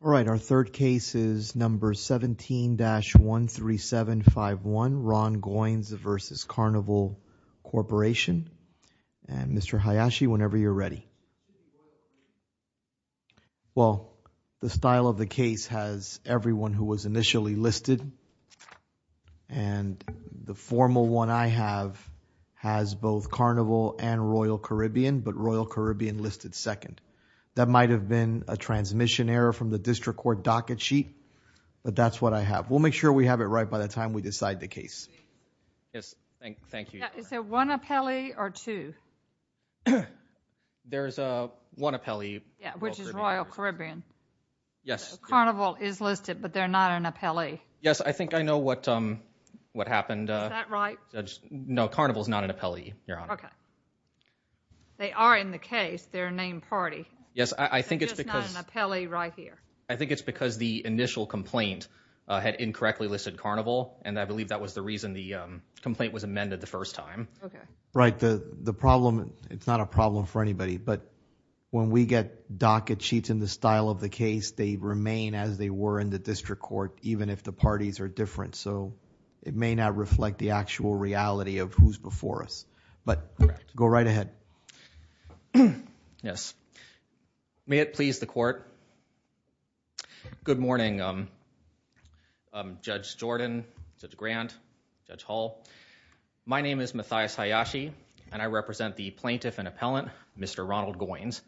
All right our third case is number 17-13751 Ron Goins v. Carnival Corporation and Mr. Hayashi whenever you're ready. Well the style of the case has everyone who was initially listed and the formal one I have has both Carnival and Royal Caribbean but Royal Caribbean listed second. That might have been a transmission error from the district court docket sheet but that's what I have. We'll make sure we have it right by the time we decide the case. Yes thank thank you. Is there one appellee or two? There's a one appellee. Yeah which is Royal Caribbean. Yes Carnival is listed but they're not an appellee. Yes I think I know what what happened. Is that right? No Carnival is not an appellee. Yes I think it's because I think it's because the initial complaint had incorrectly listed Carnival and I believe that was the reason the complaint was amended the first time. Okay right the the problem it's not a problem for anybody but when we get docket sheets in the style of the case they remain as they were in the district court even if the parties are different so it may not reflect the actual reality of who's before us but go right ahead. Yes may it please the court. Good morning Judge Jordan, Judge Grant, Judge Hall. My name is Matthias Hayashi and I represent the plaintiff and appellant Mr. Ronald Goines.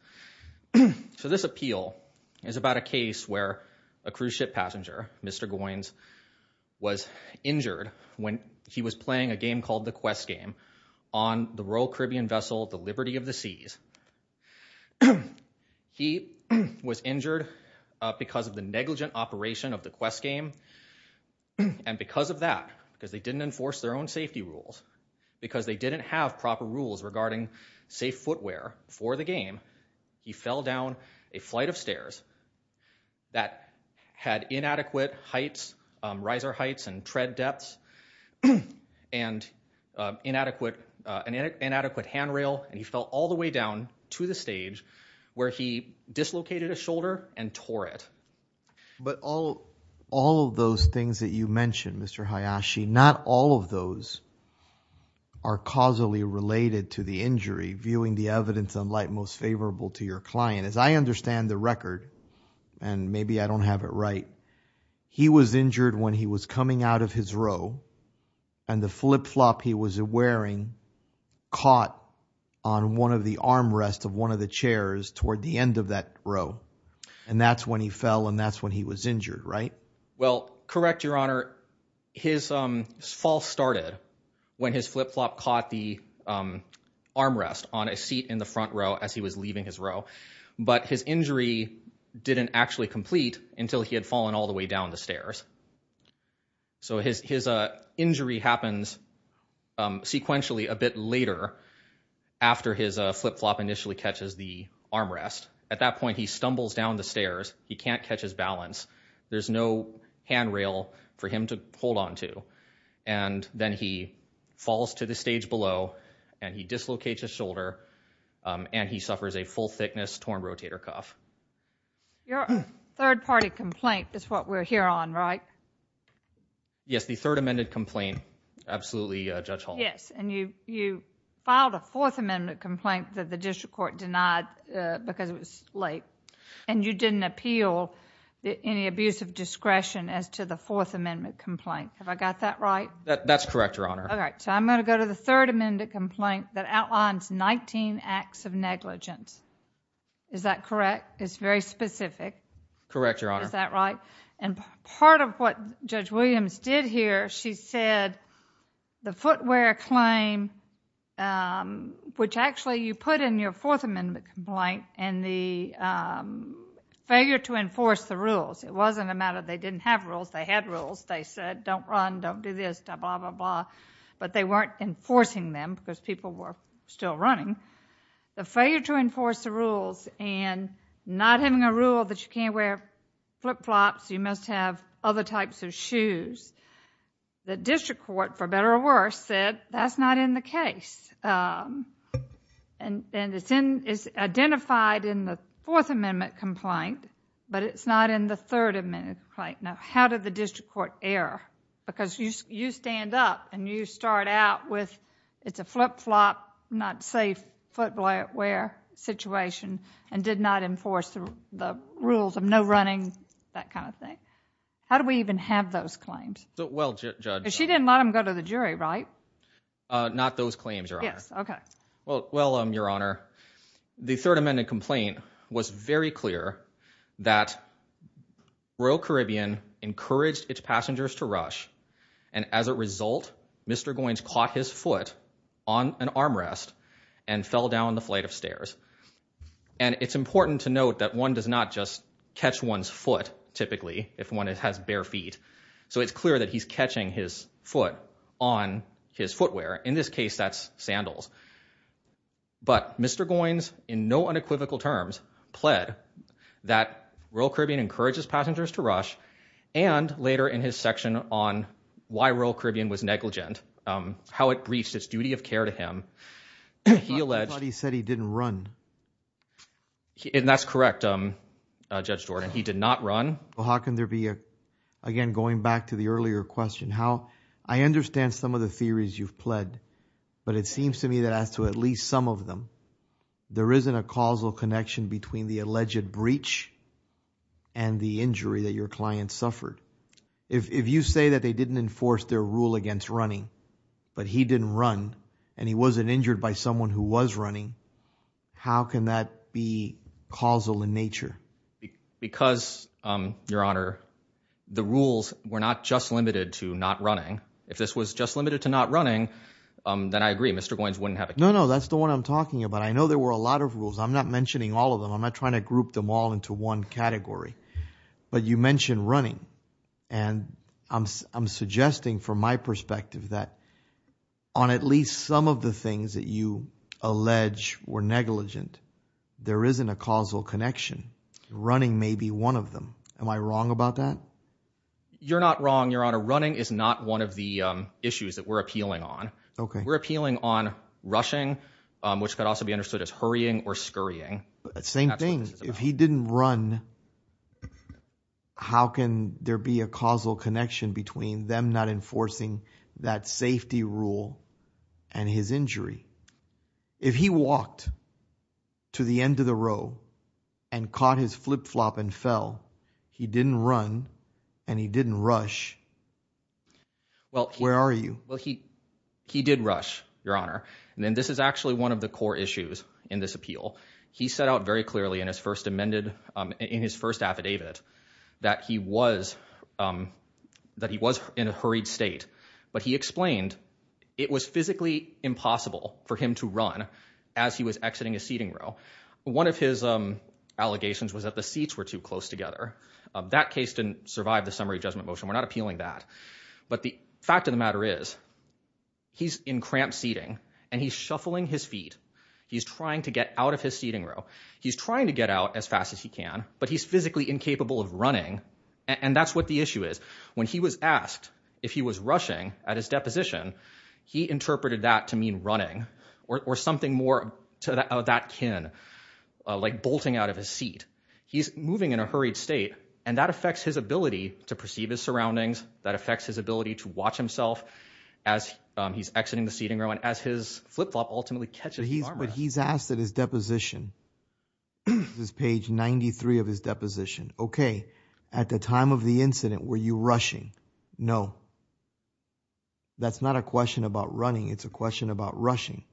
So this appeal is about a case where a cruise ship passenger Mr. Goines was injured when he was of the seas. He was injured because of the negligent operation of the quest game and because of that because they didn't enforce their own safety rules because they didn't have proper rules regarding safe footwear for the game he fell down a flight of stairs that had inadequate heights riser heights and tread depths and inadequate an inadequate hand and he fell all the way down to the stage where he dislocated a shoulder and tore it. But all all of those things that you mentioned Mr. Hayashi not all of those are causally related to the injury viewing the evidence on light most favorable to your client as I understand the record and maybe I don't have it right he was injured when he was coming out of his row and the flip-flop he was wearing caught on one of the armrests of one of the chairs toward the end of that row and that's when he fell and that's when he was injured right? Well correct your honor his fall started when his flip-flop caught the armrest on a seat in the front row as he was leaving his row but his injury didn't actually complete until he had fallen all the way down the stairs so his his injury happens sequentially a bit later after his flip-flop initially catches the armrest at that point he stumbles down the stairs he can't catch his balance there's no handrail for him to hold on to and then he falls to the stage below and he dislocates his shoulder and he suffers a full thickness torn rotator cuff. Your third party complaint is what we're here on right? Yes the third amended complaint absolutely Judge Hall. Yes and you you filed a fourth amendment complaint that the district court denied because it was late and you didn't appeal any abuse of discretion as to the fourth amendment complaint have I got that right? That that's correct your honor. All right so I'm going to go to the third amended complaint that outlines 19 acts of negligence is that correct it's very specific? Correct your honor. Is that right and part of what Judge Williams did here she said the footwear claim um which actually you put in your fourth amendment complaint and the um failure to enforce the rules it wasn't a matter they didn't have rules they had rules they said don't run don't do this blah blah but they weren't enforcing them because people were still running the failure to enforce the rules and not having a rule that you can't wear flip flops you must have other types of shoes the district court for better or worse said that's not in the case um and and it's in it's identified in the fourth amendment complaint but it's not in the third amendment right now how did the district court err because you you stand up and you start out with it's a flip-flop not safe footwear situation and did not enforce the rules of no running that kind of thing how do we even have those claims so well judge she didn't let him go to the jury right uh not those claims your honor yes okay well well um your honor the third royal caribbean encouraged its passengers to rush and as a result mr goines caught his foot on an armrest and fell down the flight of stairs and it's important to note that one does not just catch one's foot typically if one has bare feet so it's clear that he's catching his foot on his footwear in this case that's sandals but mr goines in no unequivocal terms pled that royal caribbean encourages passengers to rush and later in his section on why royal caribbean was negligent um how it breached its duty of care to him he alleged he said he didn't run and that's correct um judge jordan he did not run well how can there be a again going back to the earlier question how i understand some of the theories you've pled but it seems to me that as to at least some of them there isn't a causal connection between the alleged breach and the injury that your client suffered if if you say that they didn't enforce their rule against running but he didn't run and he wasn't injured by someone who was running how can that be causal in nature because um your honor the rules were not just limited to not running if this was just limited to not running um then i i'm talking about i know there were a lot of rules i'm not mentioning all of them i'm not trying to group them all into one category but you mentioned running and i'm i'm suggesting from my perspective that on at least some of the things that you allege were negligent there isn't a causal connection running may be one of them am i wrong about that you're not wrong your honor running is not one of the issues that we're appealing on okay we're appealing on rushing which could also be understood as hurrying or scurrying same thing if he didn't run how can there be a causal connection between them not enforcing that safety rule and his injury if he walked to the end of the well where are you well he he did rush your honor and then this is actually one of the core issues in this appeal he set out very clearly in his first amended um in his first affidavit that he was um that he was in a hurried state but he explained it was physically impossible for him to run as he was exiting a seating row one of his um allegations was that the seats were too close together that case didn't survive the summary judgment motion we're not appealing that but the fact of the matter is he's in cramped seating and he's shuffling his feet he's trying to get out of his seating row he's trying to get out as fast as he can but he's physically incapable of running and that's what the issue is when he was asked if he was rushing at his deposition he interpreted that to mean running or something more to that kin like bolting out of his seat he's moving in a hurried state and that affects his ability to perceive his surroundings that affects his ability to watch himself as he's exiting the seating room and as his flip-flop ultimately catches he's but he's asked at his deposition this page 93 of his deposition okay at the time of the incident were you rushing no that's not a question about running it's a question about rushing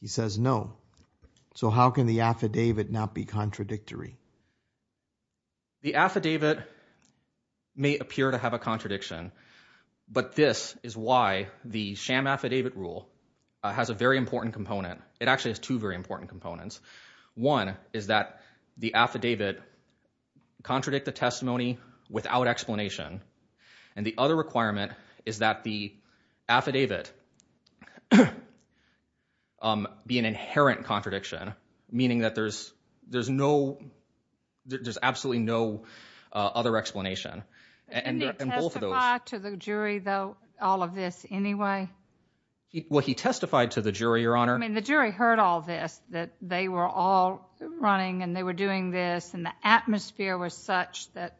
he says no so how can the affidavit not be contradictory the affidavit may appear to have a contradiction but this is why the sham affidavit rule has a very important component it actually has two very important components one is that the affidavit contradict the testimony without explanation and the other requirement is that the affidavit um be an inherent contradiction meaning that there's there's no there's absolutely no other explanation and both of those to the jury though all of this anyway well he testified to the jury your honor i mean the jury heard all this that they were all running and they were doing this and the atmosphere was such that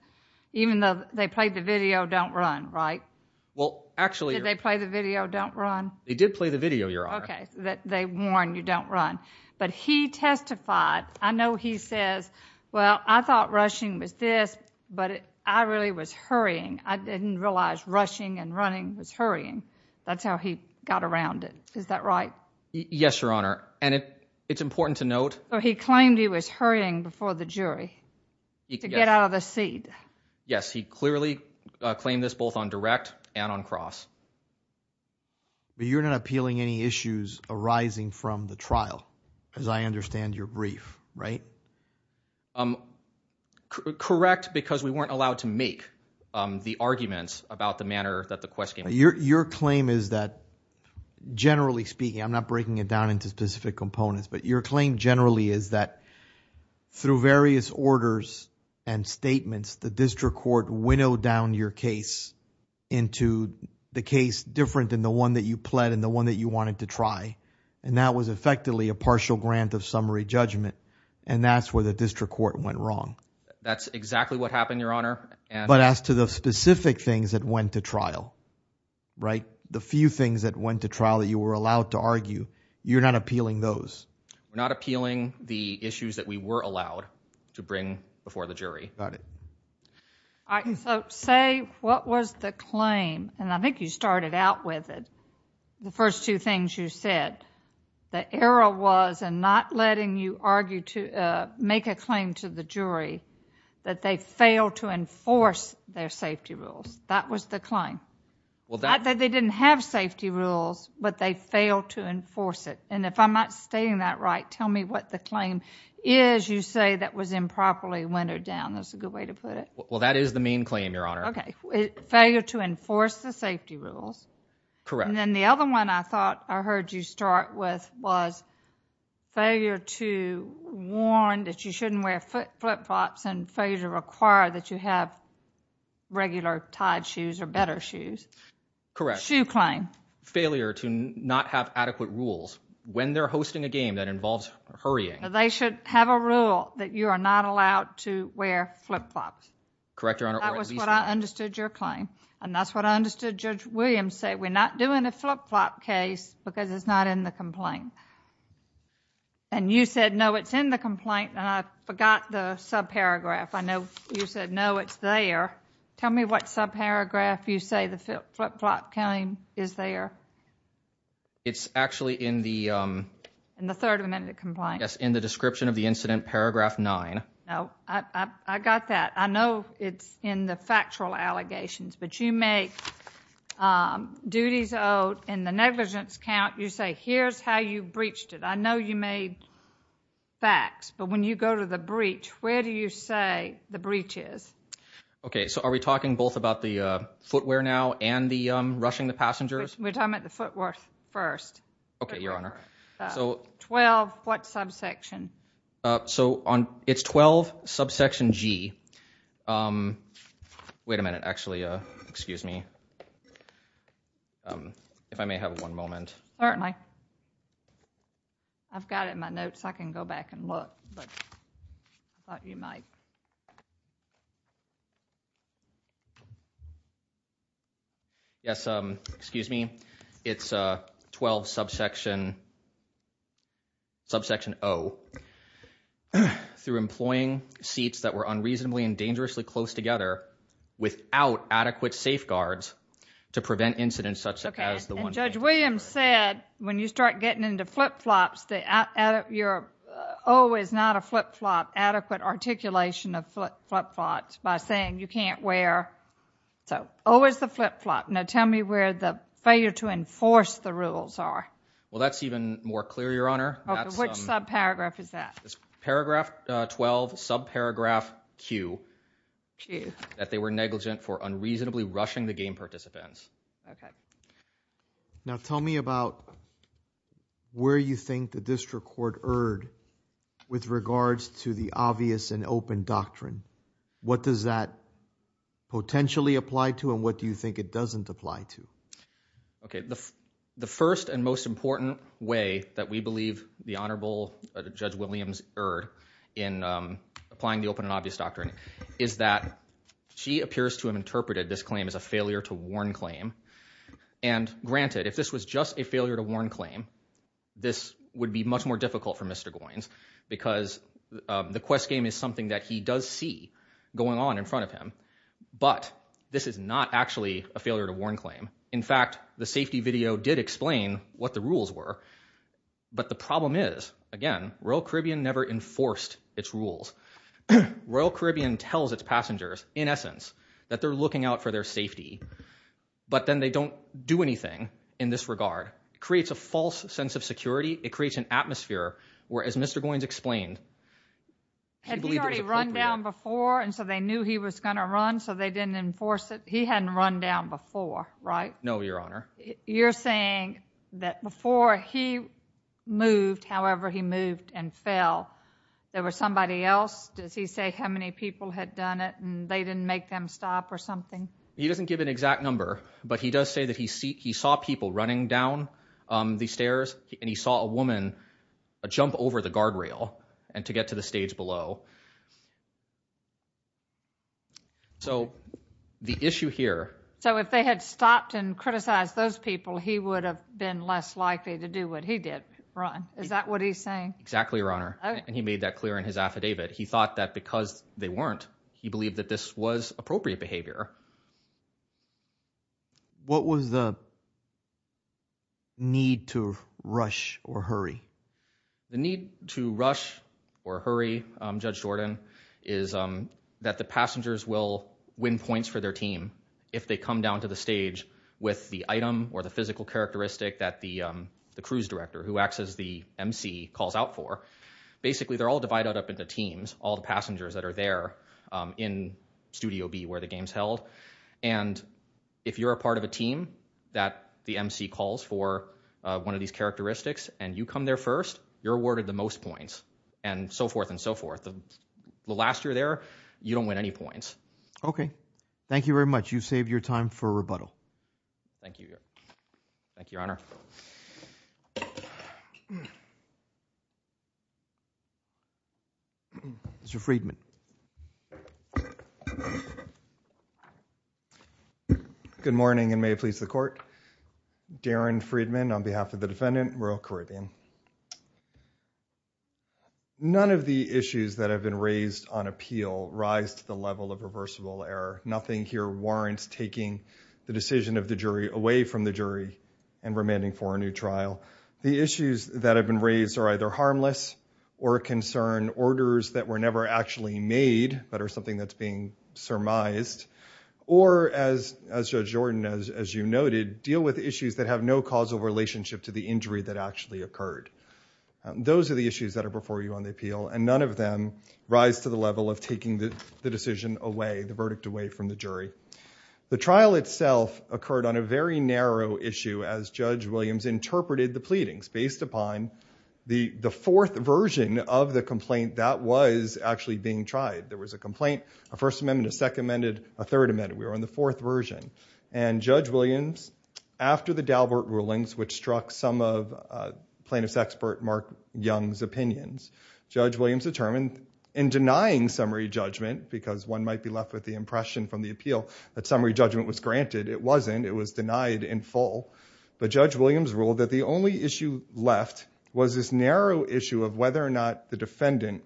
even though they played the video don't run right well actually they play the video don't run they did play the video your honor okay that they warn you but he testified i know he says well i thought rushing was this but i really was hurrying i didn't realize rushing and running was hurrying that's how he got around it is that right yes your honor and it it's important to note so he claimed he was hurrying before the jury to get out of the seat yes he clearly claimed this both on direct and on cross but you're not appealing any issues arising from the trial as i understand your brief right um correct because we weren't allowed to make um the arguments about the manner that the question your your claim is that generally speaking i'm not breaking it down into specific components but your claim generally is that through various orders and statements the district court winnowed your case into the case different than the one that you pled and the one that you wanted to try and that was effectively a partial grant of summary judgment and that's where the district court went wrong that's exactly what happened your honor and but as to the specific things that went to trial right the few things that went to trial that you were allowed to argue you're not appealing those we're not appealing the issues that we were allowed to bring before the jury about it all right so say what was the claim and i think you started out with it the first two things you said the error was and not letting you argue to uh make a claim to the jury that they failed to enforce their safety rules that was the claim well that they didn't have safety rules but they failed to enforce it and if i'm not stating that right tell me what the claim is you say that was improperly windowed down that's a good way to put it well that is the main claim your honor okay failure to enforce the safety rules correct and then the other one i thought i heard you start with was failure to warn that you shouldn't wear flip-flops and failure to require that you have regular tied shoes or better shoes correct shoe claim failure to not have hurrying they should have a rule that you are not allowed to wear flip-flops correct your honor that was what i understood your claim and that's what i understood judge williams said we're not doing a flip-flop case because it's not in the complaint and you said no it's in the complaint and i forgot the subparagraph i know you said no it's there tell me what subparagraph you say the flip-flop county is there it's actually in the um in the third amendment complaint yes in the description of the incident paragraph nine no i i got that i know it's in the factual allegations but you make um duties owed in the negligence count you say here's how you breached it i know you made facts but when you go to the breach where do you say the breach is okay so are we talking both about the uh footwear now and the um rushing the passengers we're talking about the footworth first okay your honor so 12 what subsection uh so on it's 12 subsection g um wait a minute actually uh excuse me um if i may have one moment certainly i've got it in my notes i can go back and look but i thought you might yes um excuse me it's a 12 subsection subsection o through employing seats that were unreasonably and dangerously close together without adequate safeguards to prevent incidents such as the one judge williams said when you start getting into flip-flops the out of your o is not a flip-flop adequate articulation of flip-flops by saying you can't wear so always the flip-flop now tell me where the failure to enforce the rules are well that's even more clear your honor which subparagraph is that paragraph uh 12 subparagraph q q that unreasonable rushing the game participants okay now tell me about where you think the district court erred with regards to the obvious and open doctrine what does that potentially apply to and what do you think it doesn't apply to okay the the first and most important way that we believe the honorable judge williams erred in um applying the open and obvious doctrine is that she appears to have interpreted this claim as a failure to warn claim and granted if this was just a failure to warn claim this would be much more difficult for mr goines because the quest game is something that he does see going on in front of him but this is not actually a failure to warn claim in fact the safety video did explain what the rules were but the problem is again royal caribbean never enforced its rules royal caribbean tells its passengers in essence that they're looking out for their safety but then they don't do anything in this regard creates a false sense of security it creates an atmosphere where as mr goines explained had he already run down before and so they knew he was gonna run so they didn't enforce it he hadn't run down before right no you're saying that before he moved however he moved and fell there was somebody else does he say how many people had done it and they didn't make them stop or something he doesn't give an exact number but he does say that he see he saw people running down um the stairs and he saw a woman a jump over the guardrail and to get to the stage below so the issue here so if they had stopped and criticized those people he would have been less likely to do what he did run is that what he's saying exactly your honor and he made that clear in his affidavit he thought that because they weren't he believed that this was appropriate behavior what was the need to rush or hurry the need to rush or hurry um judge jordan is um that the passengers will win points for their team if they come down to the stage with the item or the physical characteristic that the um the cruise director who acts as the mc calls out for basically they're all divided up into teams all the passengers that are there um in studio b where the game's held and if you're a part of a team that the mc calls for uh one of these characteristics and you come there first you're awarded the most points and so forth and so forth the last year there you win any points okay thank you very much you saved your time for rebuttal thank you thank you your honor mr friedman good morning and may it please the court darren friedman on behalf of the defendant royal caribbean none of the issues that have been raised on appeal rise to the level of reversible error nothing here warrants taking the decision of the jury away from the jury and remanding for a new trial the issues that have been raised are either harmless or concern orders that were never actually made but are something that's being surmised or as as judge jordan as as you noted deal with issues that have no causal relationship to the injury that actually occurred those are the issues that are before you on the appeal and none of them rise to the level of taking the decision away the verdict away from the jury the trial itself occurred on a very narrow issue as judge williams interpreted the pleadings based upon the the fourth version of the complaint that was actually being tried there was a complaint a first amendment a second amended a third amendment we were in the fourth version and judge williams after the dalbert rulings which struck some of plaintiff's expert mark young's opinions judge williams determined in denying summary judgment because one might be left with the impression from the appeal that summary judgment was granted it wasn't it was denied in full but judge williams ruled that the only issue left was this narrow issue of whether or not the defendant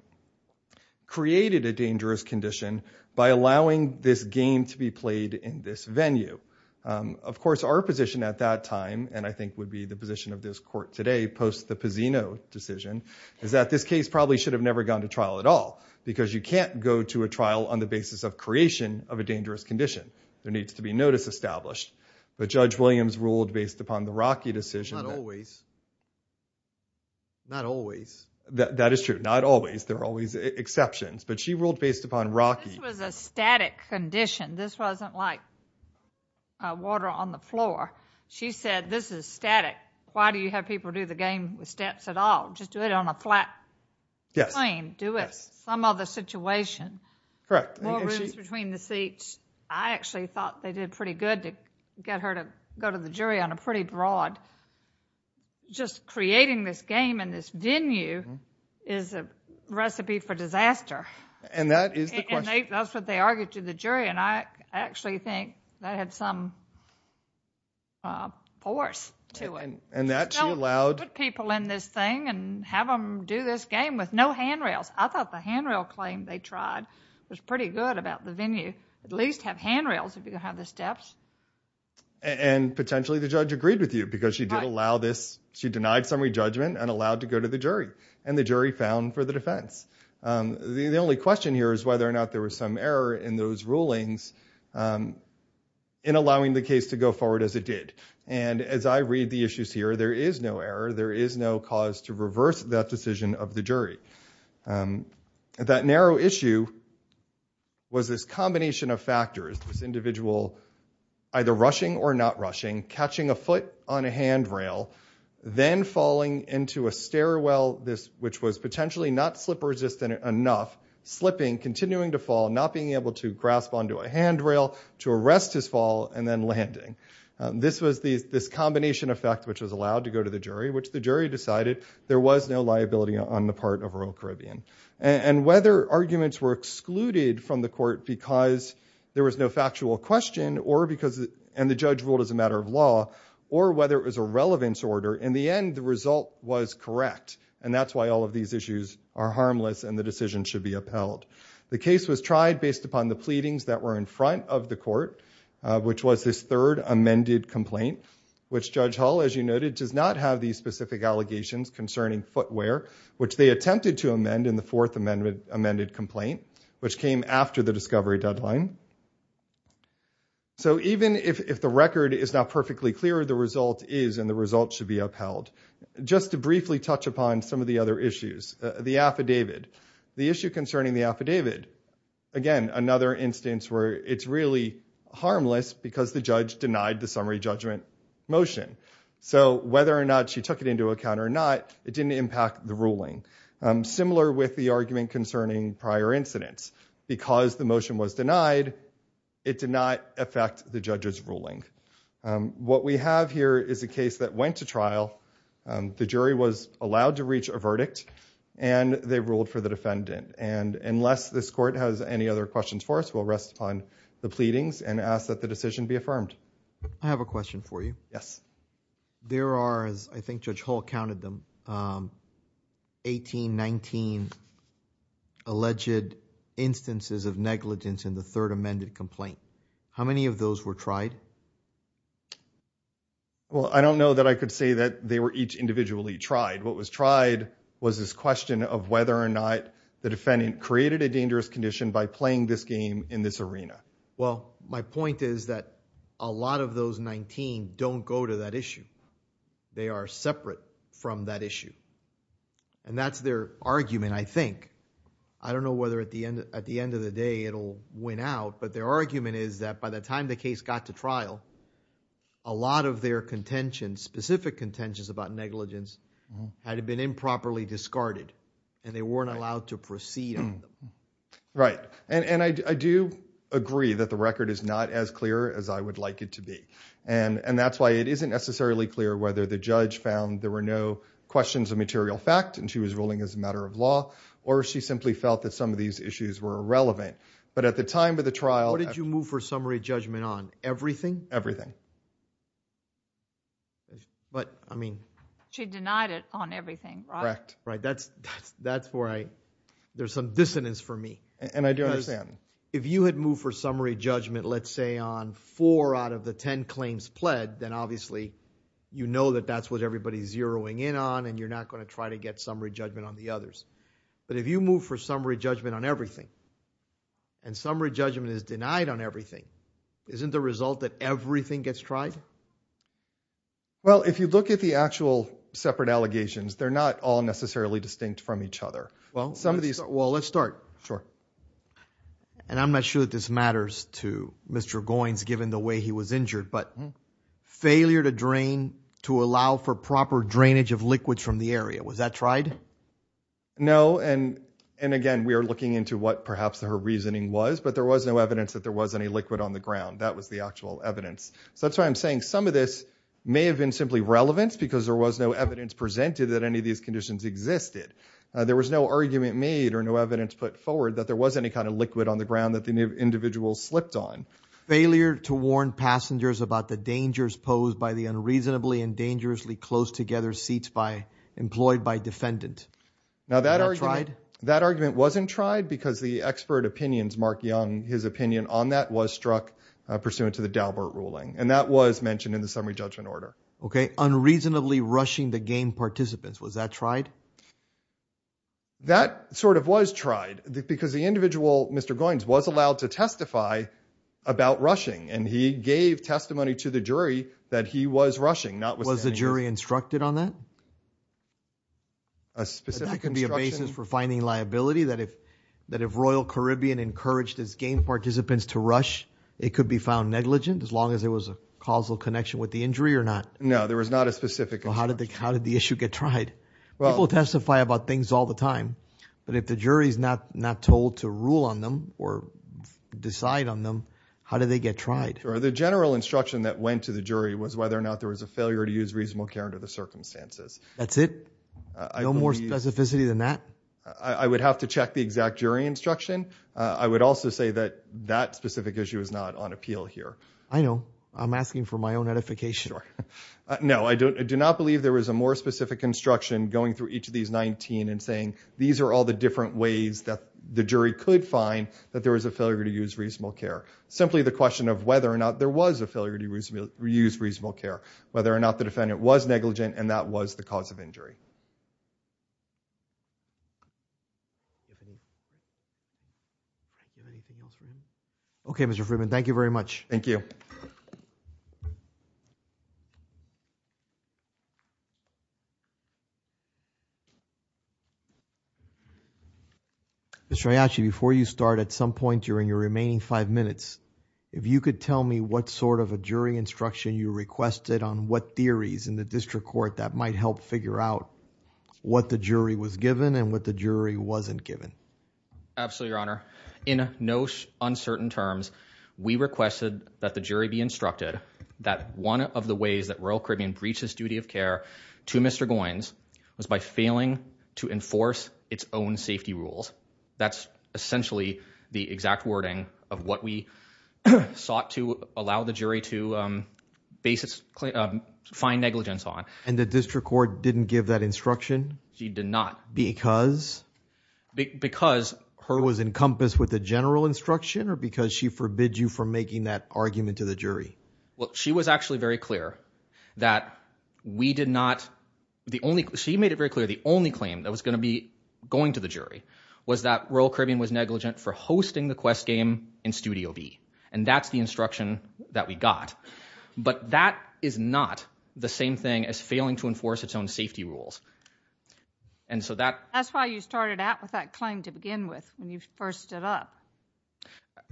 created a dangerous condition by allowing this game to be in this venue of course our position at that time and i think would be the position of this court today post the pazino decision is that this case probably should have never gone to trial at all because you can't go to a trial on the basis of creation of a dangerous condition there needs to be notice established but judge williams ruled based upon the rocky decision not always not always that that is true not always there are always exceptions but she ruled based upon rocky this was a static condition this wasn't like uh water on the floor she said this is static why do you have people do the game with steps at all just do it on a flat plane do it some other situation correct more rooms between the seats i actually thought they did pretty good to get her to go to the jury on a pretty broad just creating this game and this venue is a recipe for disaster and that is the question that's what they argued to the jury and i actually think that had some force to it and that allowed people in this thing and have them do this game with no handrails i thought the handrail claim they tried was pretty good about the venue at least have handrails if you have the steps and potentially the judge agreed with you because she did allow this she denied summary judgment and allowed to go to the jury and the jury found for the defense the only question here is whether or not there was some error in those rulings in allowing the case to go forward as it did and as i read the issues here there is no error there is no cause to reverse that decision of the jury that narrow issue was this combination of factors this individual either rushing or not rushing catching a foot on a handrail then falling into a stairwell this which was potentially not slip resistant enough slipping continuing to fall not being able to grasp onto a handrail to arrest his fall and then landing this was these this combination effect which was allowed to go to the jury which the jury decided there was no liability on the part of rural caribbean and whether arguments were excluded from the court because there was no factual question or because and the judge ruled as a matter of law or whether it was a relevance order in the end the result was correct and that's why all of these issues are harmless and the decision should be upheld the case was tried based upon the pleadings that were in front of the court which was this third amended complaint which judge hull as you noted does not have these specific allegations concerning footwear which they attempted to amend in the fourth amendment amended complaint which came after the discovery deadline so even if if the results should be upheld just to briefly touch upon some of the other issues the affidavit the issue concerning the affidavit again another instance where it's really harmless because the judge denied the summary judgment motion so whether or not she took it into account or not it didn't impact the ruling similar with the argument concerning prior incidents because the motion was denied it did not affect the judge's ruling what we have here is a case that went to trial the jury was allowed to reach a verdict and they ruled for the defendant and unless this court has any other questions for us we'll rest upon the pleadings and ask that the decision be affirmed i have a question for you yes there are as i think judge hall counted them um 18 19 alleged instances of negligence in the third amended complaint how many of those were tried well i don't know that i could say that they were each individually tried what was tried was this question of whether or not the defendant created a dangerous condition by playing this game in this arena well my point is that a lot of those 19 don't go to that issue they are separate from that issue and that's their argument i think i don't know whether at the end at the end of the day it'll win out but their argument is that by the time the case got to trial a lot of their contention specific contentions about negligence had been improperly discarded and they weren't allowed to proceed on them right and and i do agree that the record is not as clear as i would like it to be and and that's why it isn't necessarily clear whether the judge found there were no questions of material fact and she was ruling as a matter of law or she simply felt that some of these issues were irrelevant but at the time of the trial what did you move for summary judgment on everything everything but i mean she denied it on everything right right that's that's that's where i there's some dissonance for me and i if you had moved for summary judgment let's say on four out of the 10 claims pled then obviously you know that that's what everybody's zeroing in on and you're not going to try to get summary judgment on the others but if you move for summary judgment on everything and summary judgment is denied on everything isn't the result that everything gets tried well if you look at the actual separate allegations they're not all necessarily distinct from each other well some well let's start sure and i'm not sure that this matters to mr goines given the way he was injured but failure to drain to allow for proper drainage of liquids from the area was that tried no and and again we are looking into what perhaps her reasoning was but there was no evidence that there was any liquid on the ground that was the actual evidence so that's why i'm saying some of this may have been simply relevance because there was no evidence presented that any of these conditions existed there was no argument made or no evidence put forward that there was any kind of liquid on the ground that the individual slipped on failure to warn passengers about the dangers posed by the unreasonably and dangerously close together seats by employed by defendant now that argument that argument wasn't tried because the expert opinions mark young his opinion on that was struck pursuant to the dalbert ruling and that was mentioned in the summary judgment order okay unreasonably rushing the game participants was that tried that sort of was tried because the individual mr goines was allowed to testify about rushing and he gave testimony to the jury that he was rushing not was the jury instructed on that a specific basis for finding liability that if that if royal caribbean encouraged his game participants to rush it could be found negligent as long as there was a causal with the injury or not no there was not a specific well how did they how did the issue get tried well people testify about things all the time but if the jury's not not told to rule on them or decide on them how did they get tried or the general instruction that went to the jury was whether or not there was a failure to use reasonable care under the circumstances that's it no more specificity than that i would have to check the exact jury instruction i would also say that that specific issue is not on appeal here i know i'm asking for my own edification no i don't i do not believe there was a more specific instruction going through each of these 19 and saying these are all the different ways that the jury could find that there was a failure to use reasonable care simply the question of whether or not there was a failure to use reasonable care whether or not the defendant was negligent and that was the cause of injury anything else for him okay mr freeman thank you very much thank you miss rayachi before you start at some point during your remaining five minutes if you could tell me what sort of a jury instruction you requested on what theories in the district court that might help figure out what the jury was given and what the jury wasn't given absolutely your honor in no uncertain terms we requested that the jury be instructed that one of the ways that royal caribbean breaches duty of care to mr goines was by failing to enforce its own safety rules that's essentially the exact wording of what we sought to allow the and the district court didn't give that instruction she did not because because her was encompassed with the general instruction or because she forbid you from making that argument to the jury well she was actually very clear that we did not the only she made it very clear the only claim that was going to be going to the jury was that royal caribbean was negligent for hosting that we got but that is not the same thing as failing to enforce its own safety rules and so that that's why you started out with that claim to begin with when you first stood up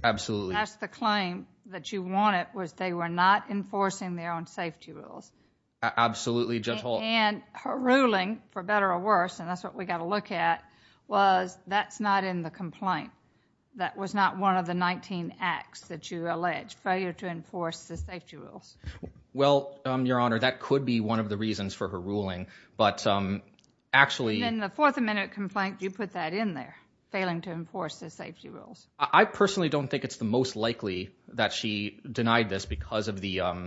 absolutely that's the claim that you wanted was they were not enforcing their own safety rules absolutely judge hall and her ruling for better or worse and that's what we got to look at was that's not in the complaint that was not one of the 19 acts that you allege failure to enforce the safety rules well um your honor that could be one of the reasons for her ruling but um actually in the fourth amendment complaint you put that in there failing to enforce the safety rules i personally don't think it's the most likely that she denied this because of the um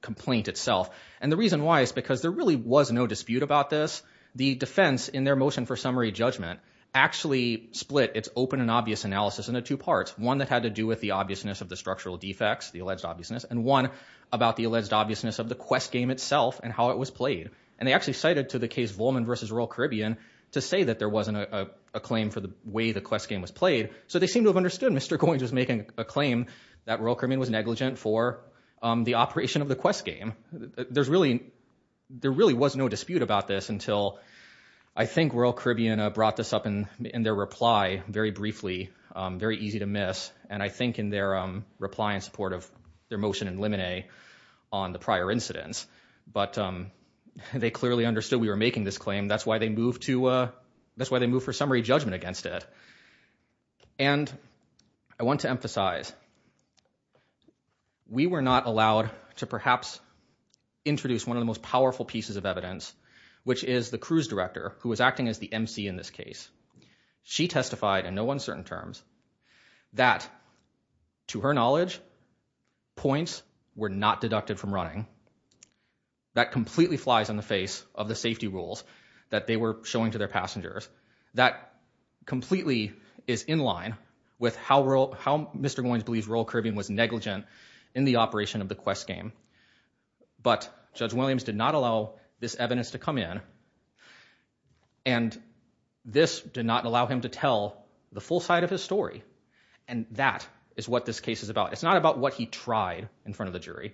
complaint itself and the reason why is because there really was no dispute about this the defense in their motion for summary judgment actually split its open and obvious analysis into two parts one that had to do with the obviousness of the structural defects the alleged obviousness and one about the alleged obviousness of the quest game itself and how it was played and they actually cited to the case volman versus royal caribbean to say that there wasn't a claim for the way the quest game was played so they seem to have understood mr going just making a claim that royal caribbean was negligent for um the operation of the quest game there's really there i think royal caribbean brought this up in in their reply very briefly um very easy to miss and i think in their um reply in support of their motion and limine on the prior incidents but um they clearly understood we were making this claim that's why they moved to uh that's why they moved for summary judgment against it and i want to emphasize we were not allowed to perhaps introduce one of the most powerful pieces of evidence which is the cruise director who was acting as the mc in this case she testified in no uncertain terms that to her knowledge points were not deducted from running that completely flies on the face of the safety rules that they were showing to their passengers that completely is in line with how well how mr goines believes royal caribbean was negligent in the operation of the quest game but judge williams did not allow this evidence to come in and this did not allow him to tell the full side of his story and that is what this case is about it's not about what he tried in front of the jury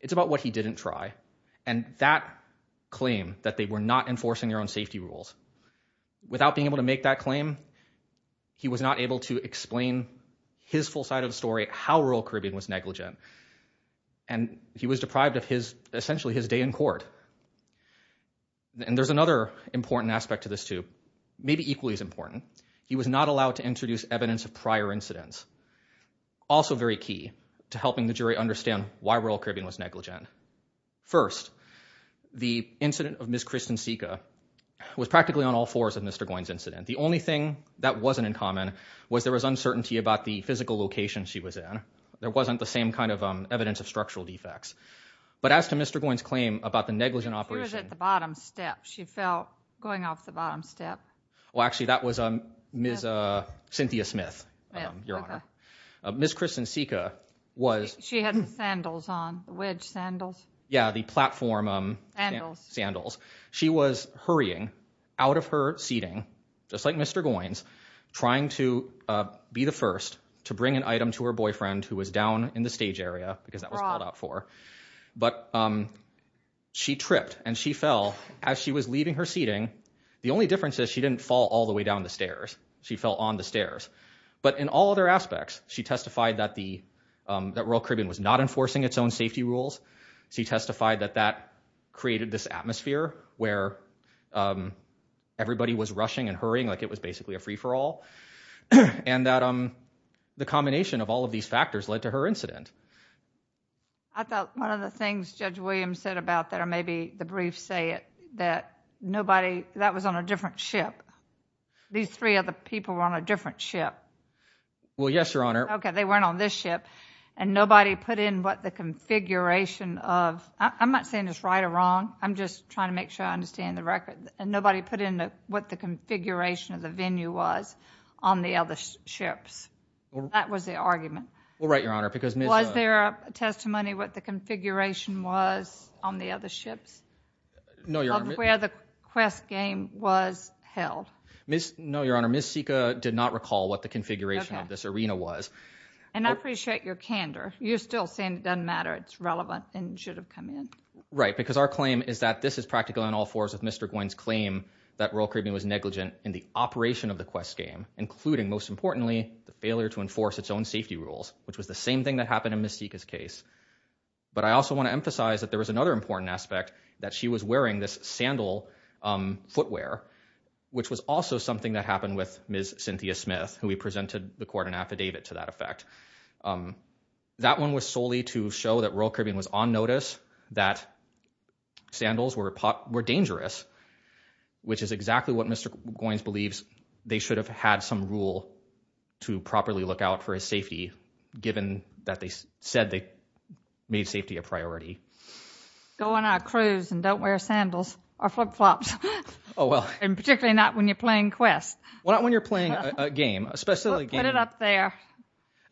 it's about what he didn't try and that claim that they were not enforcing their own safety rules without being able to make that claim he was not able to explain his full side of the story how rural caribbean was negligent and he was deprived of his essentially his day in court and there's another important aspect to this too maybe equally as important he was not allowed to introduce evidence of prior incidents also very key to helping the jury understand why rural caribbean was negligent first the incident of miss kristin was practically on all fours of mr goines incident the only thing that wasn't in common was there was uncertainty about the physical location she was in there wasn't the same kind of evidence of structural defects but as to mr goines claim about the negligent operation at the bottom step she felt going off the bottom step well actually that was um miss uh cynthia smith um your honor miss kristen sika was she had sandals on wedge sandals yeah the platform um sandals she was hurrying out of her seating just like mr goines trying to uh be the first to bring an item to her boyfriend who was down in the stage area because that was called out for but um she tripped and she fell as she was leaving her seating the only difference is she didn't fall all the way down the testified that the um that rural caribbean was not enforcing its own safety rules she testified that that created this atmosphere where um everybody was rushing and hurrying like it was basically a free-for-all and that um the combination of all of these factors led to her incident i thought one of the things judge williams said about that or maybe the briefs say it that nobody that was on a different ship these three other people were on a different ship well yes your honor okay they weren't on this ship and nobody put in what the configuration of i'm not saying it's right or wrong i'm just trying to make sure i understand the record and nobody put into what the configuration of the venue was on the other ships that was the argument well right your honor because was there a testimony what the configuration was on the other ships no your where the quest game was held miss no your honor miss sika did not recall what the configuration of this arena was and i appreciate your candor you're still saying it doesn't matter it's relevant and should have come in right because our claim is that this is practically on all fours of mr guinn's claim that rural caribbean was negligent in the operation of the quest game including most importantly the failure to enforce its own safety rules which was the same thing that happened in mystique's case but i also want to emphasize that there was another important aspect that she was wearing this sandal um footwear which was also something that happened with ms cynthia smith who we presented the court an affidavit to that effect um that one was solely to show that rural caribbean was on notice that sandals were dangerous which is exactly what mr goines believes they should have had some rule to properly look out for his safety given that they said they made safety a priority go on our cruise and don't wear sandals or flip-flops oh well and particularly not when you're playing quest well not when you're playing a game especially put it up there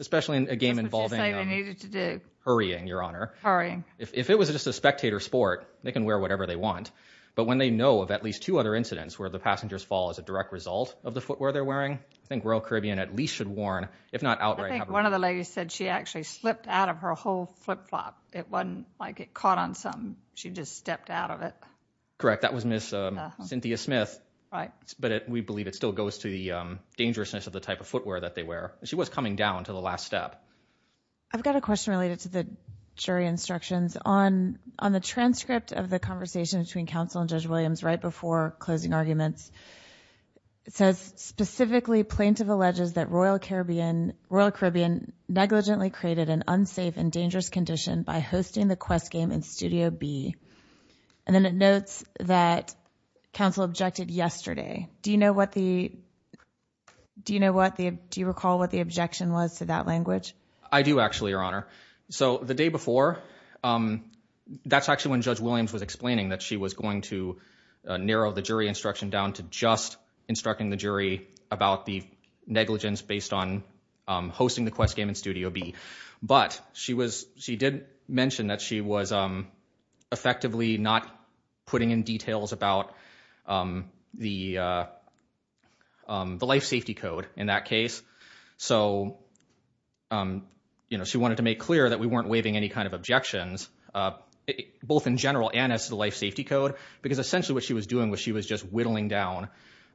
especially in a game involving they needed to do hurrying your honor hurrying if it was just a spectator sport they can wear whatever they want but when they know of at least two other incidents where the passengers fall as a direct result of the footwear they're wearing i think rural caribbean at least should warn if not outright i think one of the ladies said she actually slipped out of her whole flip-flop it wasn't like it caught on she just stepped out of it correct that was miss uh cynthia smith right but we believe it still goes to the um dangerousness of the type of footwear that they wear she was coming down to the last step i've got a question related to the jury instructions on on the transcript of the conversation between counsel and judge williams right before closing arguments it says specifically plaintiff alleges that royal caribbean royal caribbean negligently created an unsafe and b and then it notes that counsel objected yesterday do you know what the do you know what the do you recall what the objection was to that language i do actually your honor so the day before um that's actually when judge williams was explaining that she was going to narrow the jury instruction down to just instructing the jury about the negligence based on um hosting the effectively not putting in details about um the uh um the life safety code in that case so um you know she wanted to make clear that we weren't waiving any kind of objections uh both in general and as the life safety code because essentially what she was doing was she was just whittling down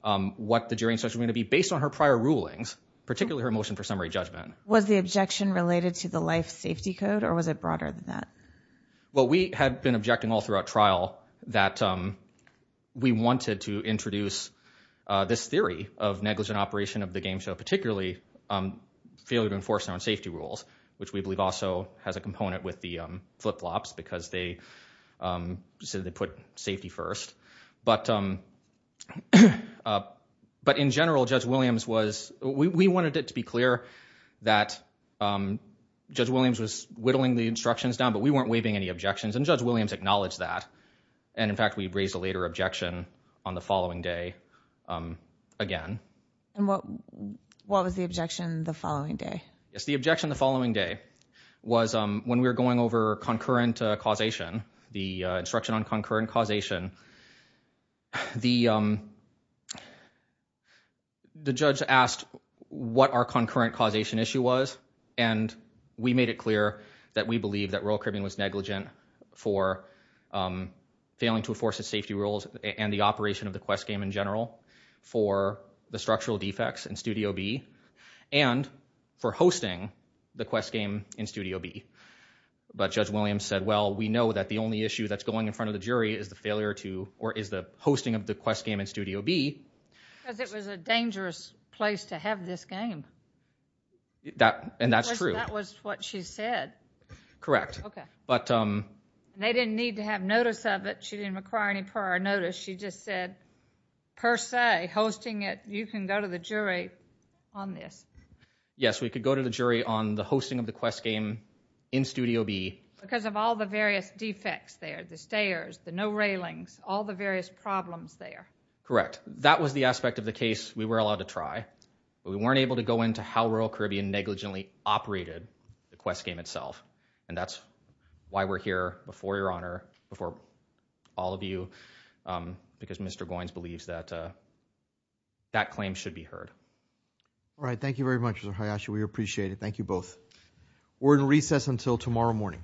um what the jury instruction going to be based on her prior rulings particularly her motion for summary judgment was the objection related to the life safety code or was it broader than that well we had been objecting all throughout trial that um we wanted to introduce uh this theory of negligent operation of the game show particularly um failure to enforce our safety rules which we believe also has a component with the um flip-flops because they um so they put safety first but um uh but in general judge williams was we wanted it to be clear that um williams was whittling the instructions down but we weren't waiving any objections and judge williams acknowledged that and in fact we raised a later objection on the following day um again and what what was the objection the following day yes the objection the following day was um when we were going over concurrent causation the instruction on concurrent causation the um the judge asked what our concurrent causation issue was and we made it clear that we believe that royal cribbing was negligent for um failing to enforce its safety rules and the operation of the quest game in general for the structural defects in studio b and for hosting the quest game in studio b but judge williams said well we know that the only issue that's going in front of the jury is the failure to or is the hosting of the quest game in studio b because it was a dangerous place to have this game that and that's true that was what she said correct okay but um they didn't need to have notice of it she didn't require any prior notice she just said per se hosting it you can go to the jury on this yes we could go to the jury on the no railings all the various problems there correct that was the aspect of the case we were allowed to try but we weren't able to go into how royal caribbean negligently operated the quest game itself and that's why we're here before your honor before all of you um because mr goines believes that uh that claim should be heard all right thank you very much we appreciate it thank you both we're in recess until tomorrow morning